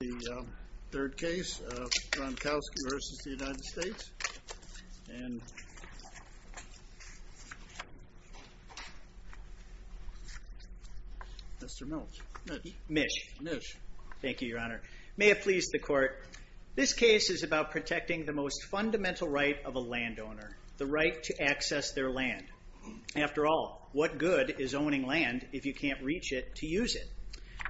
The third case, Ronkowski v. United States, and Mr. Mish. Mish. Mish. Thank you, Your Honor. May it please the Court. This case is about protecting the most fundamental right of a landowner, the right to access their land. After all, what good is owning land if you can't reach it to use it?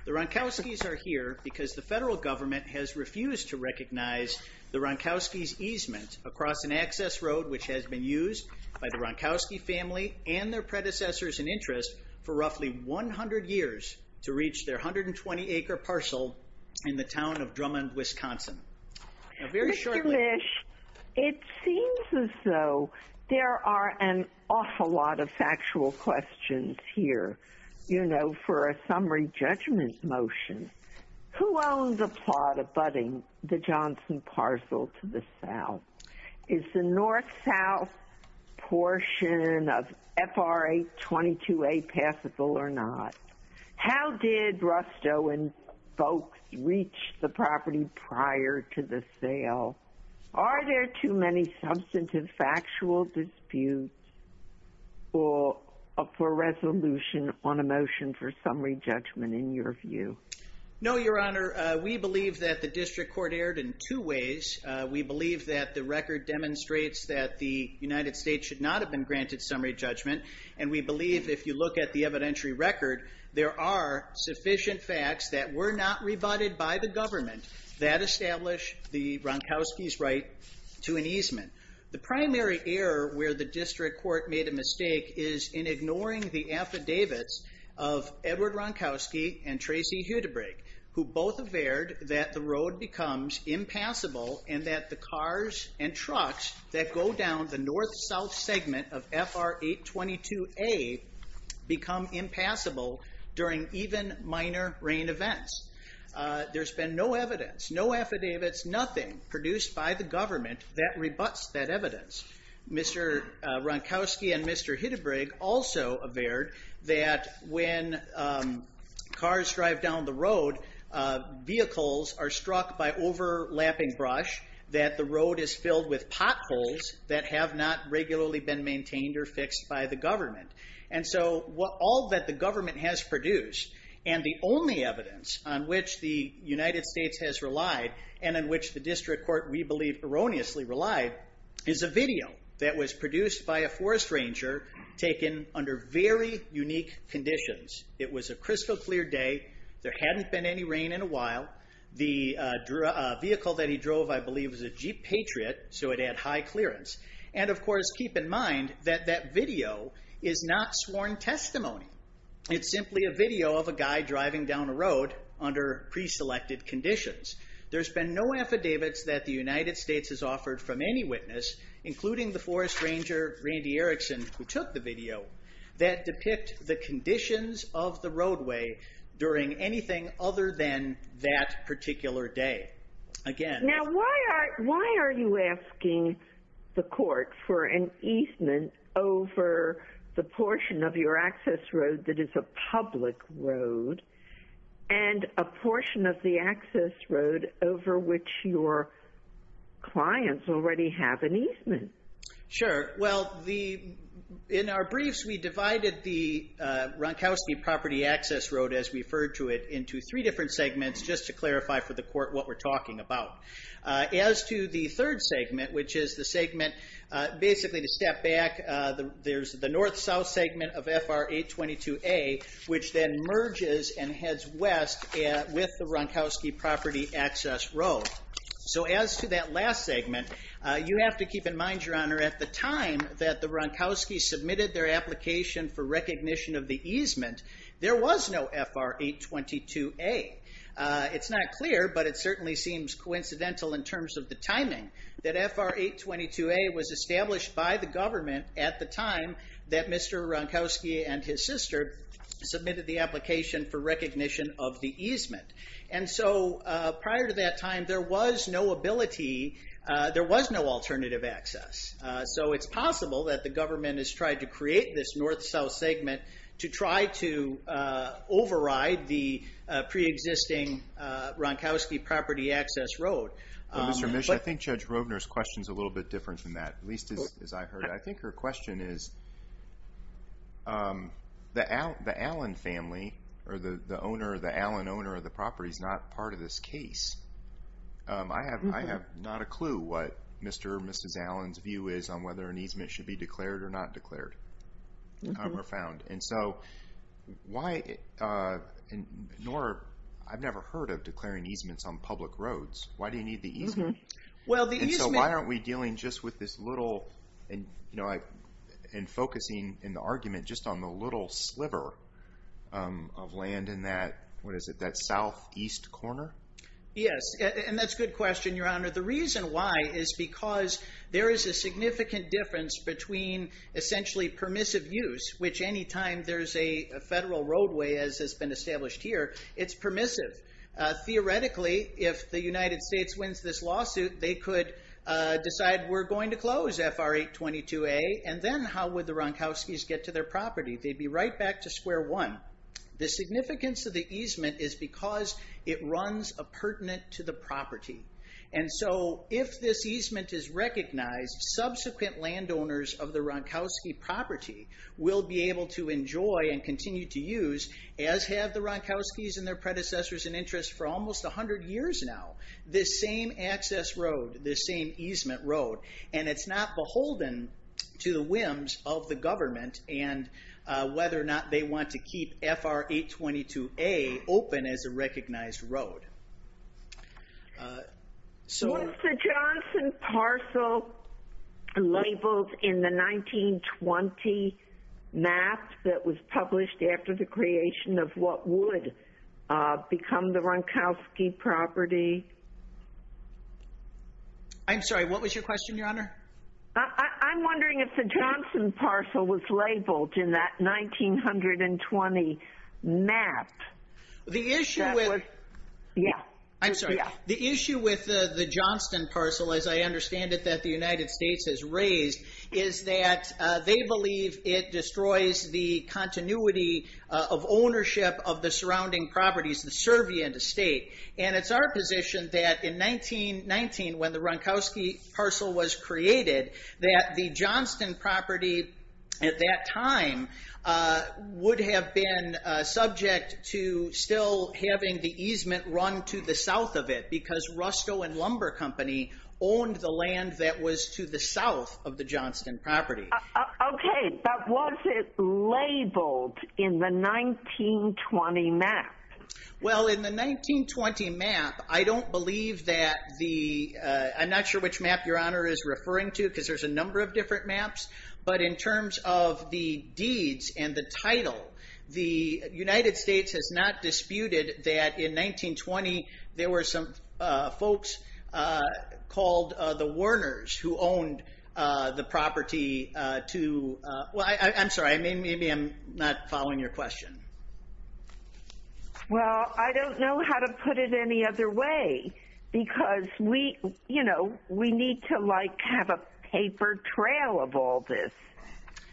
The Ronkowskis are here because the federal government has refused to recognize the Ronkowski's easement across an access road which has been used by the Ronkowski family and their predecessors in interest for roughly 100 years to reach their 120-acre parcel in the town of Drummond, Now, very shortly— Mr. Mish, it seems as though there are an awful lot of factual questions here, you know, for a summary judgment motion. Who owns a plot abutting the Johnson parcel to the south? Is the north-south portion of FRA 22A passable or not? How did Rusto and folks reach the property prior to the sale? Are there too many substantive factual disputes for resolution on a motion for summary judgment in your view? No, Your Honor. We believe that the district court erred in two ways. We believe that the record demonstrates that the United States should not have been granted summary judgment, and we believe if you look at the evidentiary record, there are sufficient facts that were not rebutted by the government that establish the Ronkowski's right to an easement. The primary error where the district court made a mistake is in ignoring the affidavits of Edward Ronkowski and Tracy Hudabrig, who both averred that the road becomes impassable and that the cars and trucks that go down the north-south segment of FR 822A become impassable during even minor rain events. There's been no evidence, no affidavits, nothing produced by the government that rebuts that evidence. Mr. Ronkowski and Mr. Hudabrig also averred that when cars drive down the road, vehicles are struck by overlapping brush, that the road is filled with potholes that have not regularly been maintained or fixed by the government. All that the government has produced, and the only evidence on which the United States has relied, and in which the district court, we believe, erroneously relied, is a video that was produced by a forest ranger, taken under very unique conditions. It was a crystal clear day, there hadn't been any rain in a while. The vehicle that he drove, I believe, was a Jeep Patriot, so it had high clearance. Of course, keep in mind that that video is not sworn testimony. It's simply a video of a guy driving down a road under pre-selected conditions. There's been no affidavits that the United States has offered from any witness, including the forest ranger, Randy Erickson, who took the video, that depict the conditions of the roadway during anything other than that particular day. Now, why are you asking the court for an easement over the portion of your access road that is a public road, and a portion of the access road over which your clients already have an easement? Sure. Well, in our briefs, we divided the Ronkowski property access road, as referred to it, into three different segments, just to clarify for the court what we're talking about. As to the third segment, which is the segment, basically to step back, there's the north-south segment of FR 822A, which then merges and heads west with the Ronkowski property access road. As to that last segment, you have to keep in mind, Your Honor, at the time that the Ronkowski submitted their application for recognition of the easement, there was no FR 822A. It's not clear, but it certainly seems coincidental in terms of the timing, that FR 822A was established by the government at the time that Mr. Ronkowski and his sister submitted the application for recognition of the easement. Prior to that time, there was no ability, there was no alternative access. It's possible that the government has tried to create this north-south segment to try to override the pre-existing Ronkowski property access road. Mr. Mish, I think Judge Rovner's question's a little bit different than that, at least as I heard it. I think her question is, the Allen family, or the owner, the Allen owner of the property is not part of this case. I have not a clue what Mr. or Mrs. Allen's view is on whether an easement should be declared or not declared, or found. And so, I've never heard of declaring easements on public roads. Why do you need the easement? And so, why aren't we dealing just with this little, and focusing in the argument just on the little sliver of land in that, what is it, that southeast corner? Yes, and that's a good question, Your Honor. The reason why is because there is a significant difference between, essentially, permissive use, which any time there's a federal roadway, as has been established here, it's permissive. Theoretically, if the United States wins this lawsuit, they could decide, we're going to close FR 822A, and then how would the Ronkowskis get to their property? They'd be right back to square one. The significance of the easement is because it runs a pertinent to the property. And so, if this easement is recognized, subsequent landowners of the Ronkowski property will be able to enjoy and continue to use, as have the Ronkowskis and their predecessors in interest for almost 100 years now, this same access road, this same easement road. And it's not beholden to the whims of the government, and whether or not they want to keep FR 822A open as a recognized road. Was the Johnson parcel labeled in the 1920 map that was published after the creation of what would become the Ronkowski property? I'm sorry, what was your question, Your Honor? I'm wondering if the Johnson parcel was labeled in that 1920 map. The issue with the Johnson parcel, as I understand it, that the United States has raised, is that they believe it destroys the continuity of ownership of the surrounding properties, the servient estate. And it's our position that in 1919, when the Ronkowski parcel was created, that the Johnston property at that time would have been subject to still having the easement run to the south of it, because Rusto and Lumber Company owned the land that was to the south of the Johnston property. OK, but was it labeled in the 1920 map? Well, in the 1920 map, I don't believe that the, I'm not sure which map Your Honor is referring to, because there's a number of different maps. But in terms of the deeds and the title, the United States has not disputed that in 1920, there were some folks called the Werners who owned the property to, well, I'm sorry, maybe I'm not following your question. Well, I don't know how to put it any other way, because we, you know, we need to like have a paper trail of all this.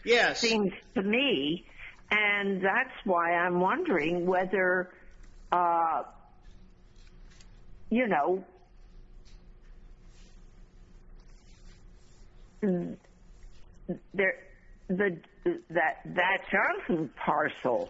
Yes. Seems to me. And that's why I'm wondering whether, you know, that Johnston parcel,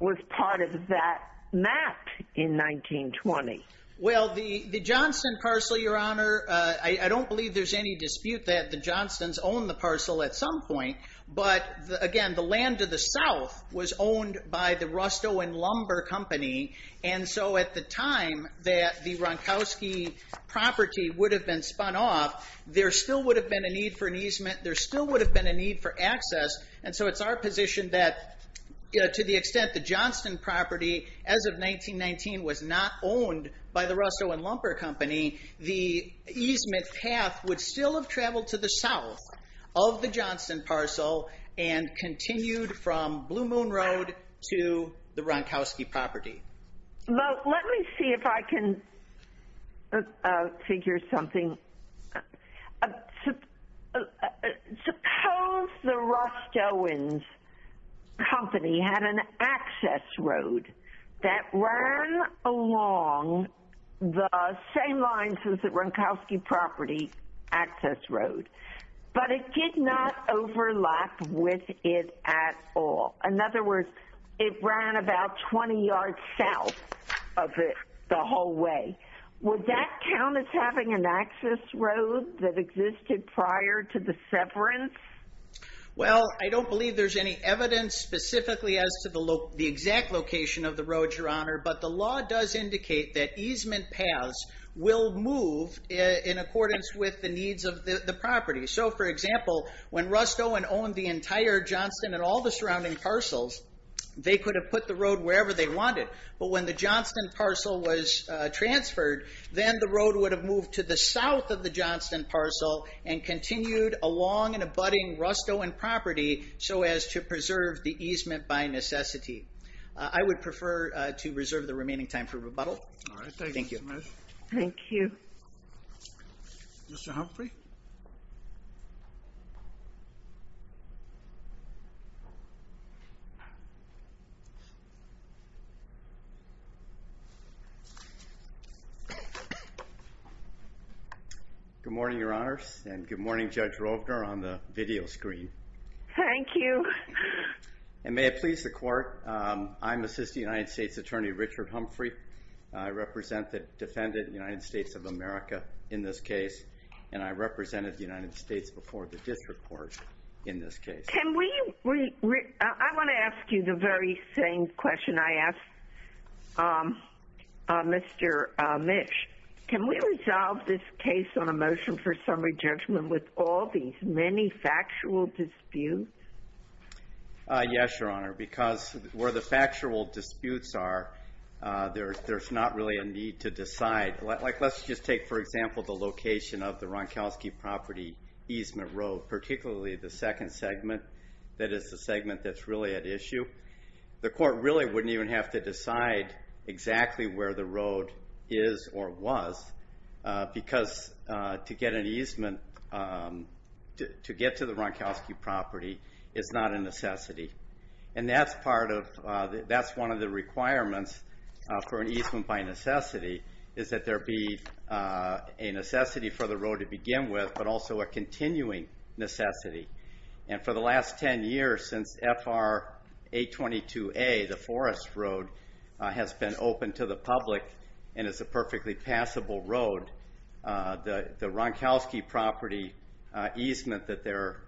was part of that map in 1920. Well, the Johnston parcel, Your Honor, I don't believe there's any dispute that the Johnstons owned the parcel at some point. But again, the land to the south was owned by the Rusto and Lumber Company. And so at the time that the Ronkowski property would have been spun off, there still would have been a need for an easement. There still would have been a need for access. And so it's our position that, you know, to the extent the Johnston property, as of 1919, was not owned by the Rusto and Lumber Company, the easement path would still have traveled to the south of the Johnston parcel and continued from Blue Moon Road to the Ronkowski property. Well, let me see if I can figure something. Suppose the Rust-Owens Company had an access road that ran along the same lines as the Ronkowski property access road, but it did not overlap with it at all. In other words, it ran about 20 yards south of it the whole way. Would that count as having an access road that existed prior to the severance? Well, I don't believe there's any evidence specifically as to the exact location of the road, Your Honor, but the law does indicate that easement paths will move in accordance with the needs of the property. So, for example, when Rust-Owens owned the entire Johnston and all the surrounding parcels, they could have put the road wherever they wanted. But when the Johnston parcel was transferred, then the road would have moved to the south of the Johnston parcel and continued along and abutting Rust-Owens property so as to preserve the easement by necessity. I would prefer to reserve the remaining time for rebuttal. Thank you. Thank you. Mr. Humphrey? Good morning, Your Honors, and good morning, Judge Rovner, on the video screen. Thank you. And may it please the Court, I'm Assistant United States Attorney Richard Humphrey. I represent the defendant in the United States of America in this case, and I represented the United States before the district court in this case. Can we, I want to ask you the very same question I asked Mr. Mitch. Can we resolve this case on a motion for summary judgment with all these many factual disputes? Yes, Your Honor, because where the factual disputes are, there's not really a need to decide. Let's just take, for example, the location of the Ronkowski property easement road, particularly the second segment, that is the segment that's really at issue. The court really wouldn't even have to decide exactly where the road is or was, because to get an easement, to get to the Ronkowski property is not a necessity. And that's part of, that's one of the requirements for an easement by necessity, is that there be a necessity for the road to begin with, but also a continuing necessity. And for the last 10 years, since FR 822A, the forest road, has been open to the public and is a perfectly passable road, the Ronkowski property easement that they're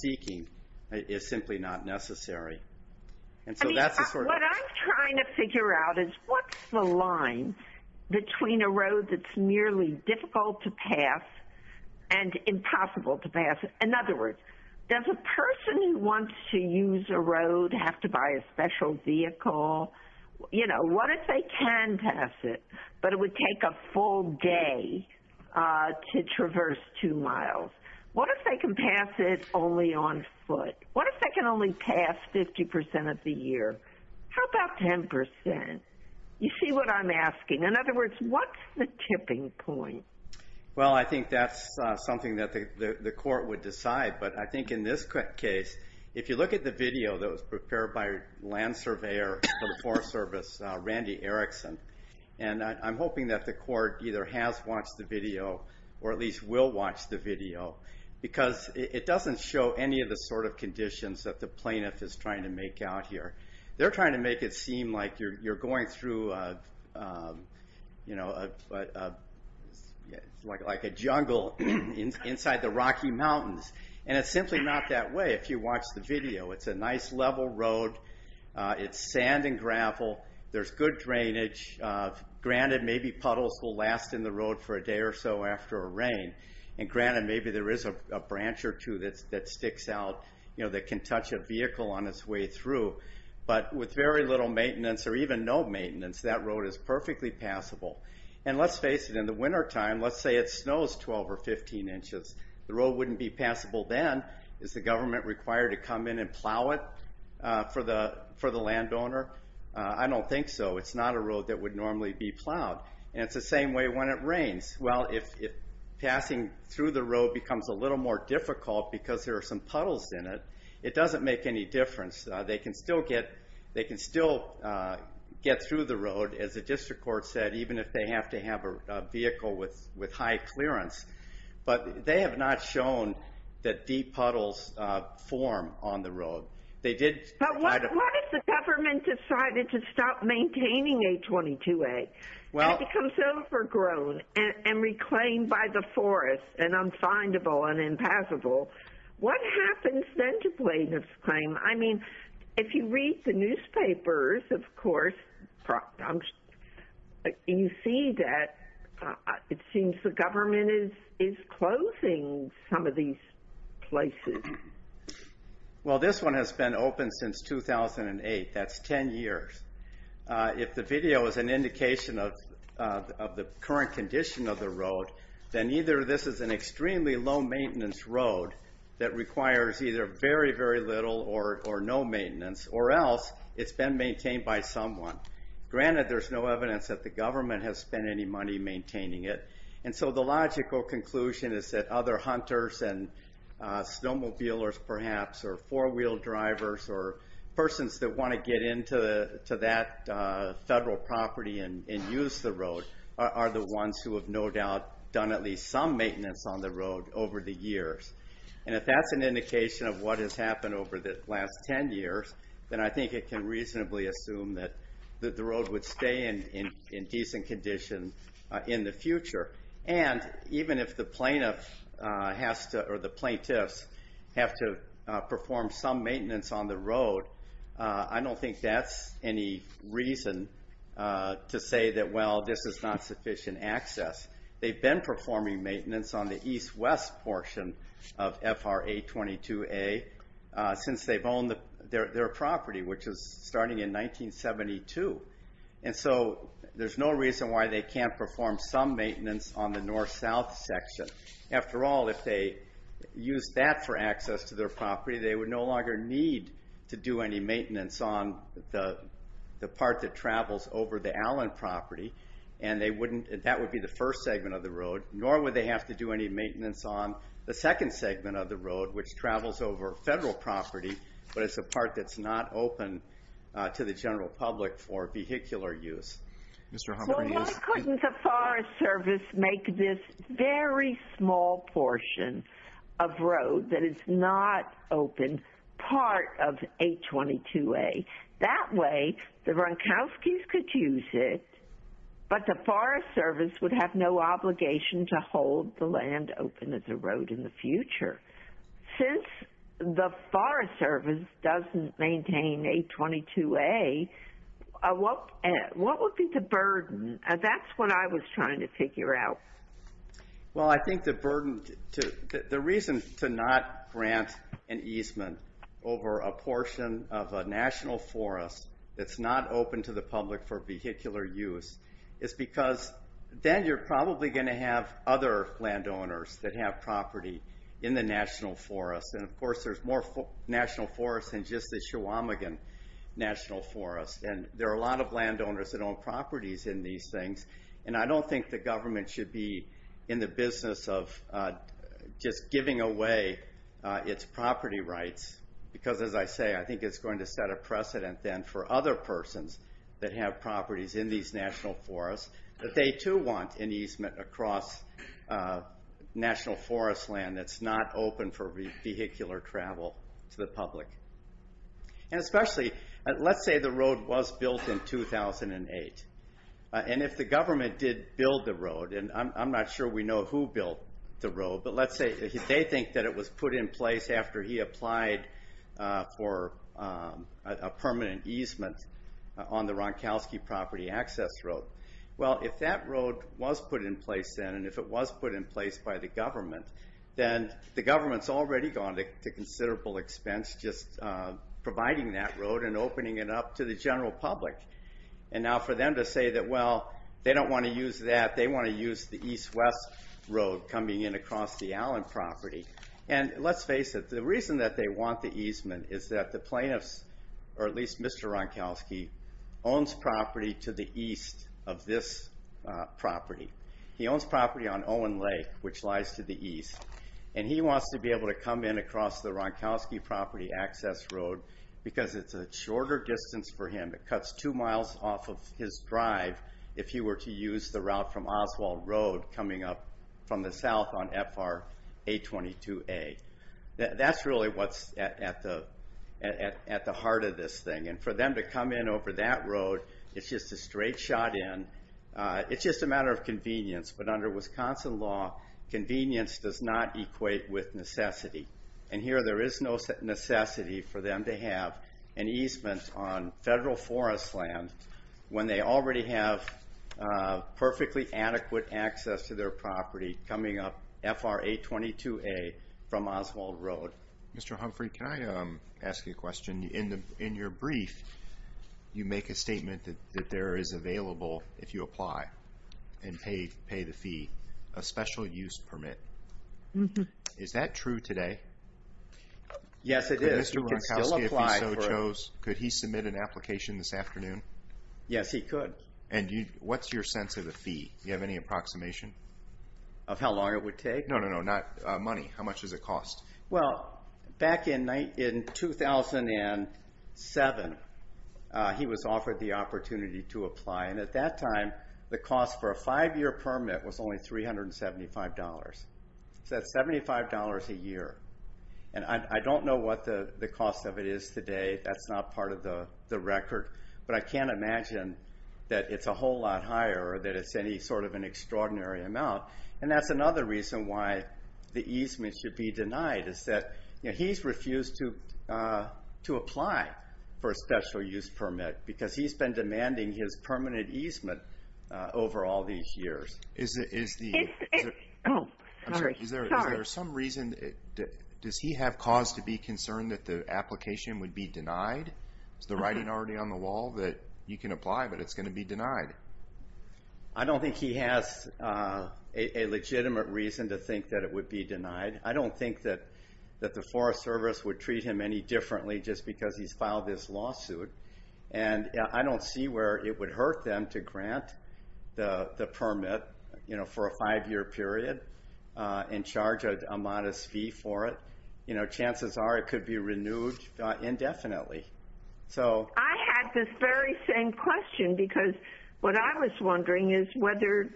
seeking is simply not necessary. And so that's a sort of... difficult to pass and impossible to pass. In other words, does a person who wants to use a road have to buy a special vehicle? You know, what if they can pass it, but it would take a full day to traverse two miles? What if they can pass it only on foot? What if they can only pass 50% of the year? How about 10%? You see what I'm asking? In other words, what's the tipping point? Well I think that's something that the court would decide, but I think in this case, if you look at the video that was prepared by land surveyor for the Forest Service, Randy Erickson, and I'm hoping that the court either has watched the video, or at least will watch the video, because it doesn't show any of the sort of conditions that the plaintiff is trying to make out here. They're trying to make it seem like you're going through, you know, like a jungle inside the Rocky Mountains, and it's simply not that way if you watch the video. It's a nice level road, it's sand and gravel, there's good drainage, granted maybe puddles will last in the road for a day or so after a rain, and granted maybe there is a branch or two that sticks out, that can touch a vehicle on its way through, but with very little maintenance, or even no maintenance, that road is perfectly passable. And let's face it, in the winter time, let's say it snows 12 or 15 inches, the road wouldn't be passable then, is the government required to come in and plow it for the landowner? I don't think so, it's not a road that would normally be plowed, and it's the same way when it rains. Well, if passing through the road becomes a little more difficult because there are some puddles in it, it doesn't make any difference. They can still get through the road, as the district court said, even if they have to have a vehicle with high clearance, but they have not shown that deep puddles form on the road. They did try to... But what if the government decided to stop maintaining 822A? It becomes overgrown and reclaimed by the forest, and unfindable and impassable. What happens then to plaintiff's claim? I mean, if you read the newspapers, of course, you see that it seems the government is closing some of these places. Well, this one has been open since 2008, that's 10 years. If the video is an indication of the current condition of the road, then either this is an extremely low maintenance road that requires either very, very little or no maintenance, or else it's been maintained by someone. Granted, there's no evidence that the government has spent any money maintaining it. And so the logical conclusion is that other hunters and snowmobilers, perhaps, or four-wheel drivers, or persons that want to get into that federal property and use the road, are the ones who have no doubt done at least some maintenance on the road over the years. And if that's an indication of what has happened over the last 10 years, then I think it can reasonably assume that the road would stay in decent condition in the future. And even if the plaintiffs have to perform some maintenance on the road, I don't think that's any reason to say that, well, this is not sufficient access. They've been performing maintenance on the east-west portion of FRA 22A since they've owned their property, which is starting in 1972. And so there's no reason why they can't perform some maintenance on the north-south section. After all, if they used that for access to their property, they would no longer need to do any maintenance on the part that travels over the Allen property. And that would be the first segment of the road, nor would they have to do any maintenance on the second segment of the road, which travels over federal property, but it's a part that's not open to the general public for vehicular use. So why couldn't the Forest Service make this very small portion of road that is not open part of 822A? That way, the Gronkowskis could use it, but the Forest Service would have no obligation to hold the land open as a road in the future. Since the Forest Service doesn't maintain 822A, what would be the burden? That's what I was trying to figure out. Well, I think the reason to not grant an easement over a portion of a national forest that's not open to the public for vehicular use is because then you're probably going to have other landowners that have property in the national forest. And of course, there's more national forests than just the Chequamegon National Forest. And there are a lot of landowners that own properties in these things, and I don't think the government should be in the business of just giving away its property rights. Because as I say, I think it's going to set a precedent then for other persons that have across national forest land that's not open for vehicular travel to the public. And especially, let's say the road was built in 2008, and if the government did build the road, and I'm not sure we know who built the road, but let's say they think that it was put in place after he applied for a permanent easement on the Gronkowski property access road. Well, if that road was put in place then, and if it was put in place by the government, then the government's already gone to considerable expense just providing that road and opening it up to the general public. And now for them to say that, well, they don't want to use that, they want to use the east-west road coming in across the Allen property. And let's face it, the reason that they want the easement is that the plaintiffs, or at least, he owns property to the east of this property. He owns property on Owen Lake, which lies to the east. And he wants to be able to come in across the Gronkowski property access road because it's a shorter distance for him, it cuts two miles off of his drive if he were to use the route from Oswald Road coming up from the south on FR 822A. That's really what's at the heart of this thing. And for them to come in over that road, it's just a straight shot in, it's just a matter of convenience. But under Wisconsin law, convenience does not equate with necessity. And here there is no necessity for them to have an easement on federal forest land when they already have perfectly adequate access to their property coming up FR 822A from Oswald Road. Mr. Humphrey, can I ask you a question? In your brief, you make a statement that there is available, if you apply and pay the fee, a special use permit. Is that true today? Yes, it is. Could Mr. Gronkowski, if he so chose, could he submit an application this afternoon? Yes, he could. And what's your sense of the fee? Do you have any approximation? Of how long it would take? No, no, no, not money. How much does it cost? Well, back in 2007, he was offered the opportunity to apply. And at that time, the cost for a five-year permit was only $375. So that's $75 a year. And I don't know what the cost of it is today. That's not part of the record. But I can't imagine that it's a whole lot higher or that it's any sort of an extraordinary amount. And that's another reason why the easement should be denied, is that he's refused to apply for a special use permit because he's been demanding his permanent easement over all these years. Is there some reason, does he have cause to be concerned that the application would be denied? Is the writing already on the wall that you can apply, but it's going to be denied? I don't think he has a legitimate reason to think that it would be denied. I don't think that the Forest Service would treat him any differently just because he's filed this lawsuit. And I don't see where it would hurt them to grant the permit for a five-year period and charge a modest fee for it. Chances are it could be renewed indefinitely. I had this very same question because what I was wondering is whether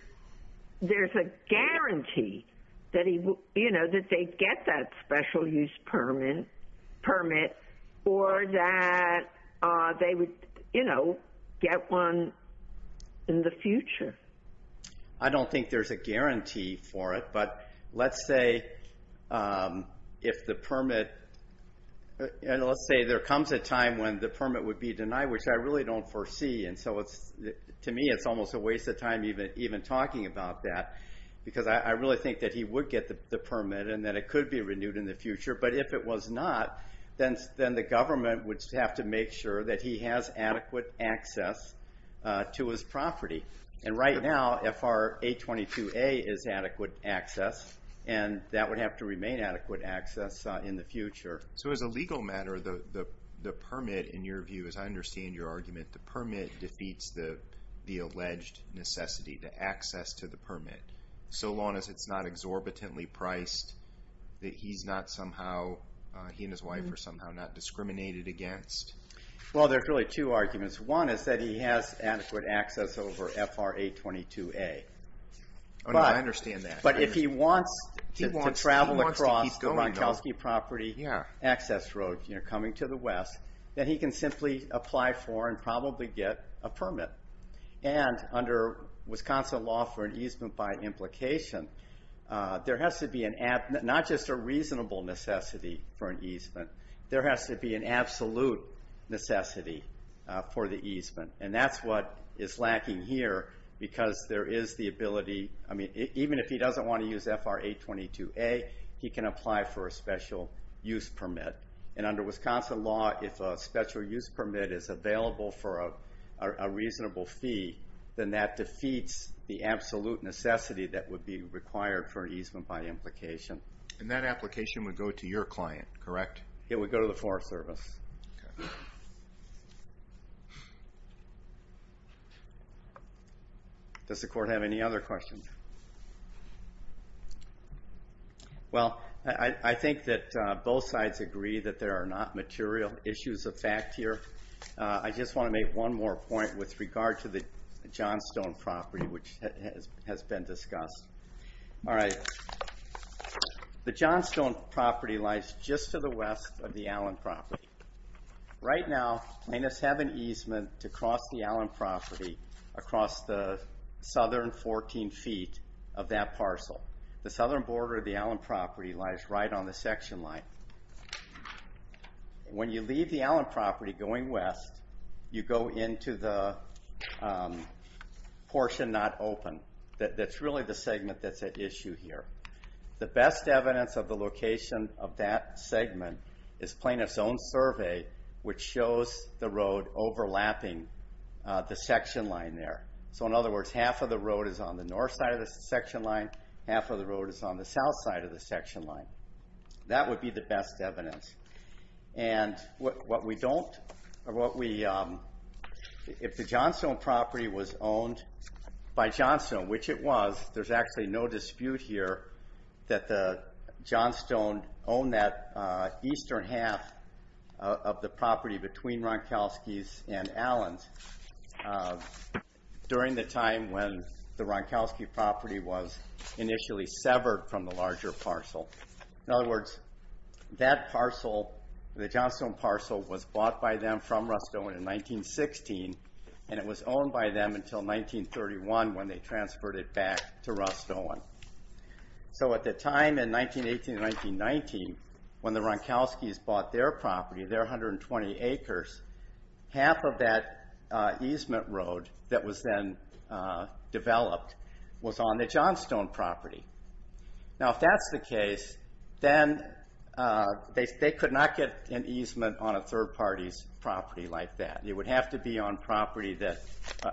there's a guarantee that they'd get that special use permit or that they would get one in the future. I don't think there's a guarantee for it. But let's say there comes a time when the permit would be denied, which I really don't foresee. And so to me, it's almost a waste of time even talking about that because I really think that he would get the permit and that it could be renewed in the future. But if it was not, then the government would have to make sure that he has adequate access to his property. And right now, if our A22A is adequate access, and that would have to remain adequate access in the future. So as a legal matter, the permit, in your view, as I understand your argument, the permit defeats the alleged necessity to access to the permit. So long as it's not exorbitantly priced that he's not somehow, he and his wife are somehow not discriminated against? Well, there's really two arguments. One is that he has adequate access over FR A22A. Oh, no, I understand that. But if he wants to travel across the Ronchowski property access road, coming to the west, then he can simply apply for and probably get a permit. And under Wisconsin law for an easement by implication, there has to be not just a reasonable necessity for an easement. There has to be an absolute necessity for the easement. And that's what is lacking here, because there is the ability, I mean, even if he doesn't want to use FR A22A, he can apply for a special use permit. And under Wisconsin law, if a special use permit is available for a reasonable fee, then that defeats the absolute necessity that would be required for an easement by implication. And that application would go to your client, correct? It would go to the Forest Service. Does the court have any other questions? Well, I think that both sides agree that there are not material issues of fact here. I just want to make one more point with regard to the Johnstone property, which has been discussed. All right. The Johnstone property lies just to the west of the Allen property. Right now, plaintiffs have an easement to cross the Allen property across the southern 14 feet of that parcel. The southern border of the Allen property lies right on the section line. When you leave the Allen property going west, you go into the portion not open. That's really the segment that's at issue here. The best evidence of the location of that segment is plaintiff's own survey, which shows the road overlapping the section line there. So in other words, half of the road is on the north side of the section line, half of the road is on the south side of the section line. That would be the best evidence. And if the Johnstone property was owned by Johnstone, which it was, there's actually no dispute here that the Johnstone owned that eastern half of the property between Ronkowski's and Allen's during the time when the Ronkowski property was initially severed from the larger parcel. In other words, that parcel, the Johnstone parcel, was bought by them from Rust-Owen in 1916, and it was owned by them until 1931 when they transferred it back to Rust-Owen. So at the time in 1918 and 1919, when the Ronkowski's bought their property, their 120 acres, half of that easement road that was then developed was on the Johnstone property. Now, if that's the case, then they could not get an easement on a third party's property like that. It would have to be on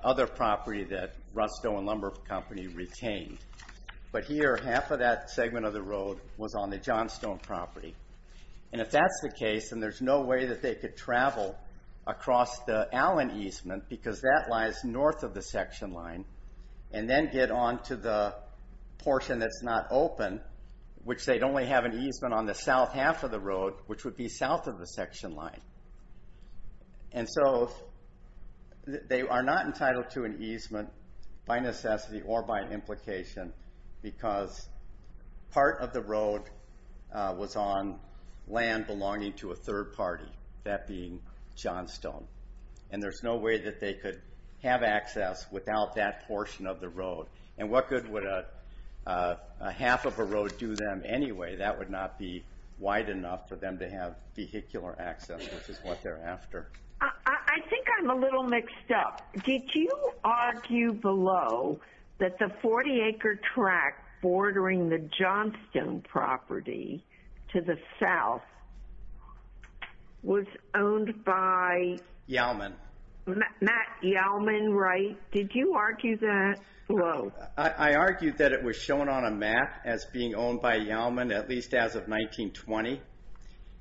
other property that Rust-Owen Lumber Company retained. But here, half of that segment of the road was on the Johnstone property. And if that's the case, then there's no way that they could travel across the Allen easement, because that lies north of the section line, and then get on to the portion that's not open, which they'd only have an easement on the south half of the road, which would be south of the section line. And so they are not entitled to an easement by necessity or by implication, because part of the road was on land belonging to a third party, that being Johnstone. And there's no way that they could have access without that portion of the road. And what good would a half of a road do them anyway? That would not be wide enough for them to have vehicular access, which is what they're after. I think I'm a little mixed up. Did you argue below that the 40 acre track bordering the Johnstone property to the south was owned by? Yalman. Matt Yalman, right? Did you argue that? Well, I argued that it was shown on a map as being owned by Yalman, at least as of 1920.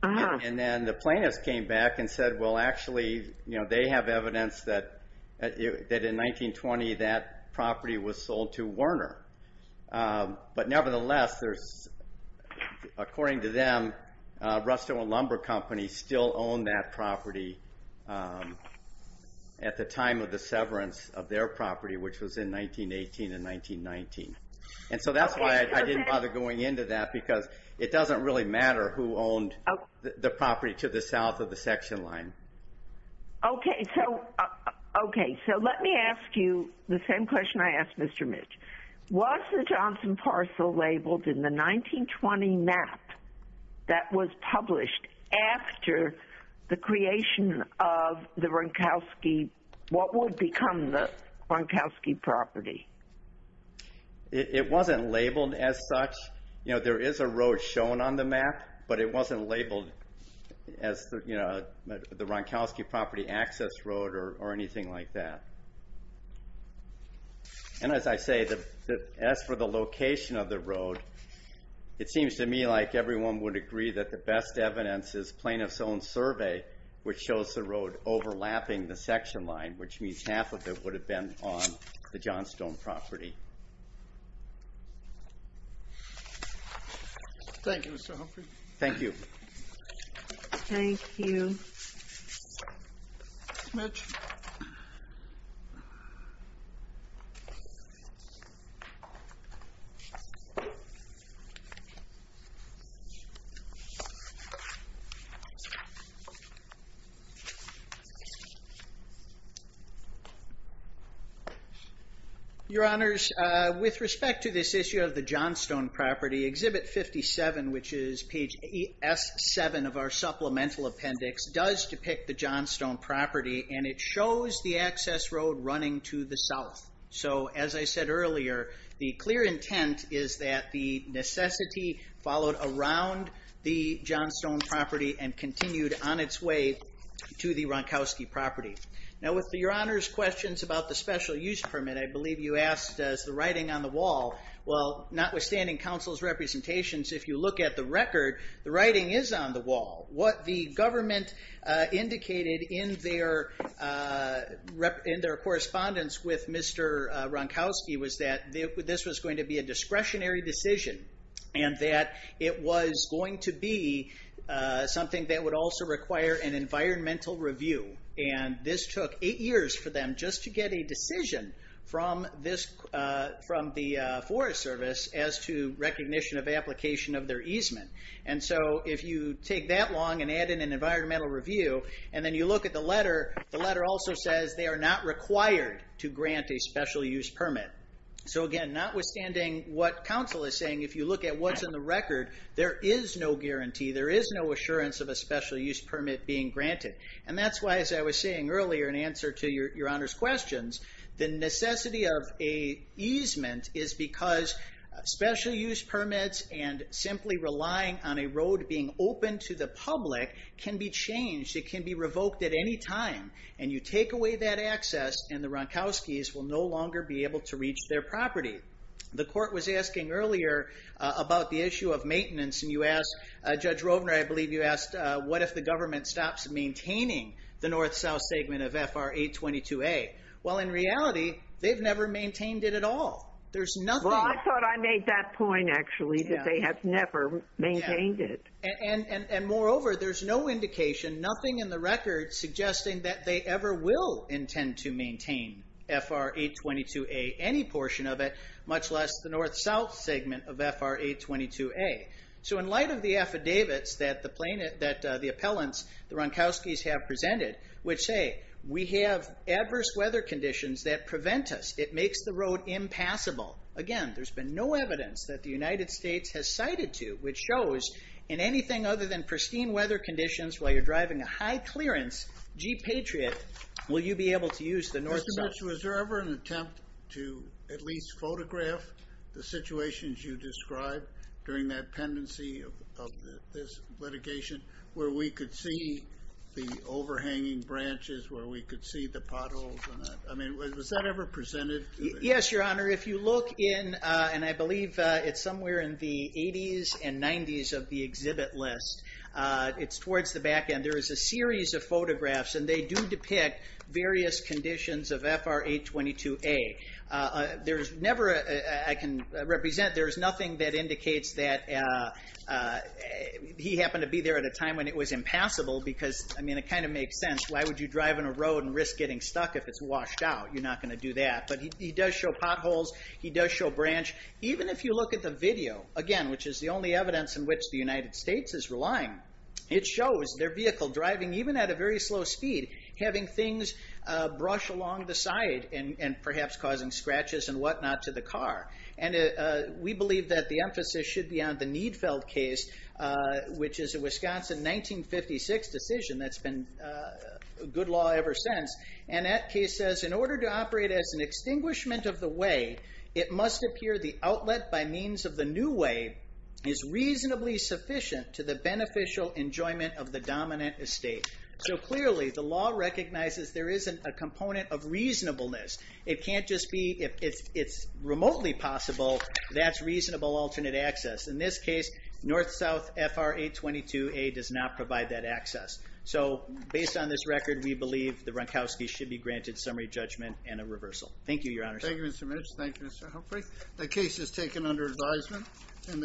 And then the plaintiffs came back and said, well, actually, they have evidence that in 1920 that property was sold to Werner. But nevertheless, according to them, Rusto and Lumber Company still owned that property at the time of the severance of their property, which was in 1918 and 1919. And so that's why I didn't bother going into that, because it doesn't really matter who owned the property to the south of the section line. OK, so let me ask you the same question I asked Mr. Mitch. Was the Johnson parcel labeled in the 1920 map that was published after the creation of the Ronkowski, what would become the Ronkowski property? It wasn't labeled as such. There is a road shown on the map, but it wasn't labeled as the Ronkowski property access road or anything like that. And as I say, as for the location of the road, it seems to me like everyone would agree that the best evidence is Plaintiff's own survey, which shows the road overlapping the section line, which means half of it would have been on the Johnstone property. Thank you, Mr. Humphrey. Thank you. Thank you. Thank you, Mitch. Your Honors, with respect to this issue of the Johnstone property, Exhibit 57, which is page S7 of our supplemental appendix, does depict the Johnstone property, and it shows the access road running to the south. So as I said earlier, the clear intent is that the necessity followed around the Johnstone property and continued on its way to the Ronkowski property. Now with Your Honors' questions about the special use permit, I believe you asked, does the writing on the wall, well, notwithstanding Council's representations, if you look at the record, the writing is on the wall. What the government indicated in their correspondence with Mr. Ronkowski was that this was going to be a discretionary decision and that it was going to be something that would also require an environmental review. And this took eight years for them just to get a decision from the Forest Service as to recognition of application of their easement. And so if you take that long and add in an environmental review, and then you look at the letter, the letter also says they are not required to grant a special use permit. So again, notwithstanding what Council is saying, if you look at what's in the record, there is no guarantee, there is no assurance of a special use permit being granted. And that's why, as I was saying earlier in answer to Your Honors' questions, the necessity of a easement is because special use permits and simply relying on a road being open to the public can be changed. It can be revoked at any time. And you take away that access and the Ronkowskis will no longer be able to reach their property. The court was asking earlier about the issue of maintenance. And you asked, Judge Rovner, I believe you asked, what if the government stops maintaining the north-south segment of FR 822A? Well, in reality, they've never maintained it at all. There's nothing... Well, I thought I made that point, actually, that they have never maintained it. And moreover, there's no indication, nothing in the record suggesting that they ever will intend to maintain FR 822A, any portion of it, much less the north-south segment of FR 822A. So in light of the affidavits that the appellants, the Ronkowskis have presented, which say, we have adverse weather conditions that prevent us. It makes the road impassable. Again, there's been no evidence that the United States has cited to, which shows in anything other than pristine weather conditions while you're driving a high-clearance Jeep Patriot, will you be able to use the north-south... Mr. Mitchell, is there ever an attempt to at least photograph the situations you described during that pendency of this litigation where we could see the overhanging branches, where we could see the potholes? I mean, was that ever presented? Yes, Your Honor. If you look in, and I believe it's somewhere in the 80s and 90s of the exhibit list, it's towards the back end. There is a series of photographs, and they do depict various conditions of FR 822A. There's never, I can represent, there is nothing that indicates that he happened to be there at a time when it was impassable because, I mean, it kind of makes sense. Why would you drive on a road and risk getting stuck if it's washed out? You're not going to do that. But he does show potholes. He does show branch. Even if you look at the video, again, which is the only evidence in which the United States is relying, it shows their vehicle driving, even at a very slow speed, having things brush along the side and perhaps causing scratches and whatnot to the car. And we believe that the emphasis should be on the Niedfeld case, which is a Wisconsin 1956 decision that's been good law ever since. And that case says, in order to operate as an extinguishment of the way, it must appear the outlet by means of the new way is reasonably sufficient to the beneficial enjoyment of the dominant estate. So clearly, the law recognizes there isn't a component of reasonableness. It can't just be, if it's remotely possible, that's reasonable alternate access. In this case, North-South FR822A does not provide that access. So based on this record, we believe the Ronkowski should be granted summary judgment and a reversal. Thank you, Your Honor. Thank you, Mr. Mitch. Thank you, Mr. Humphrey. The case is taken under advisement. And the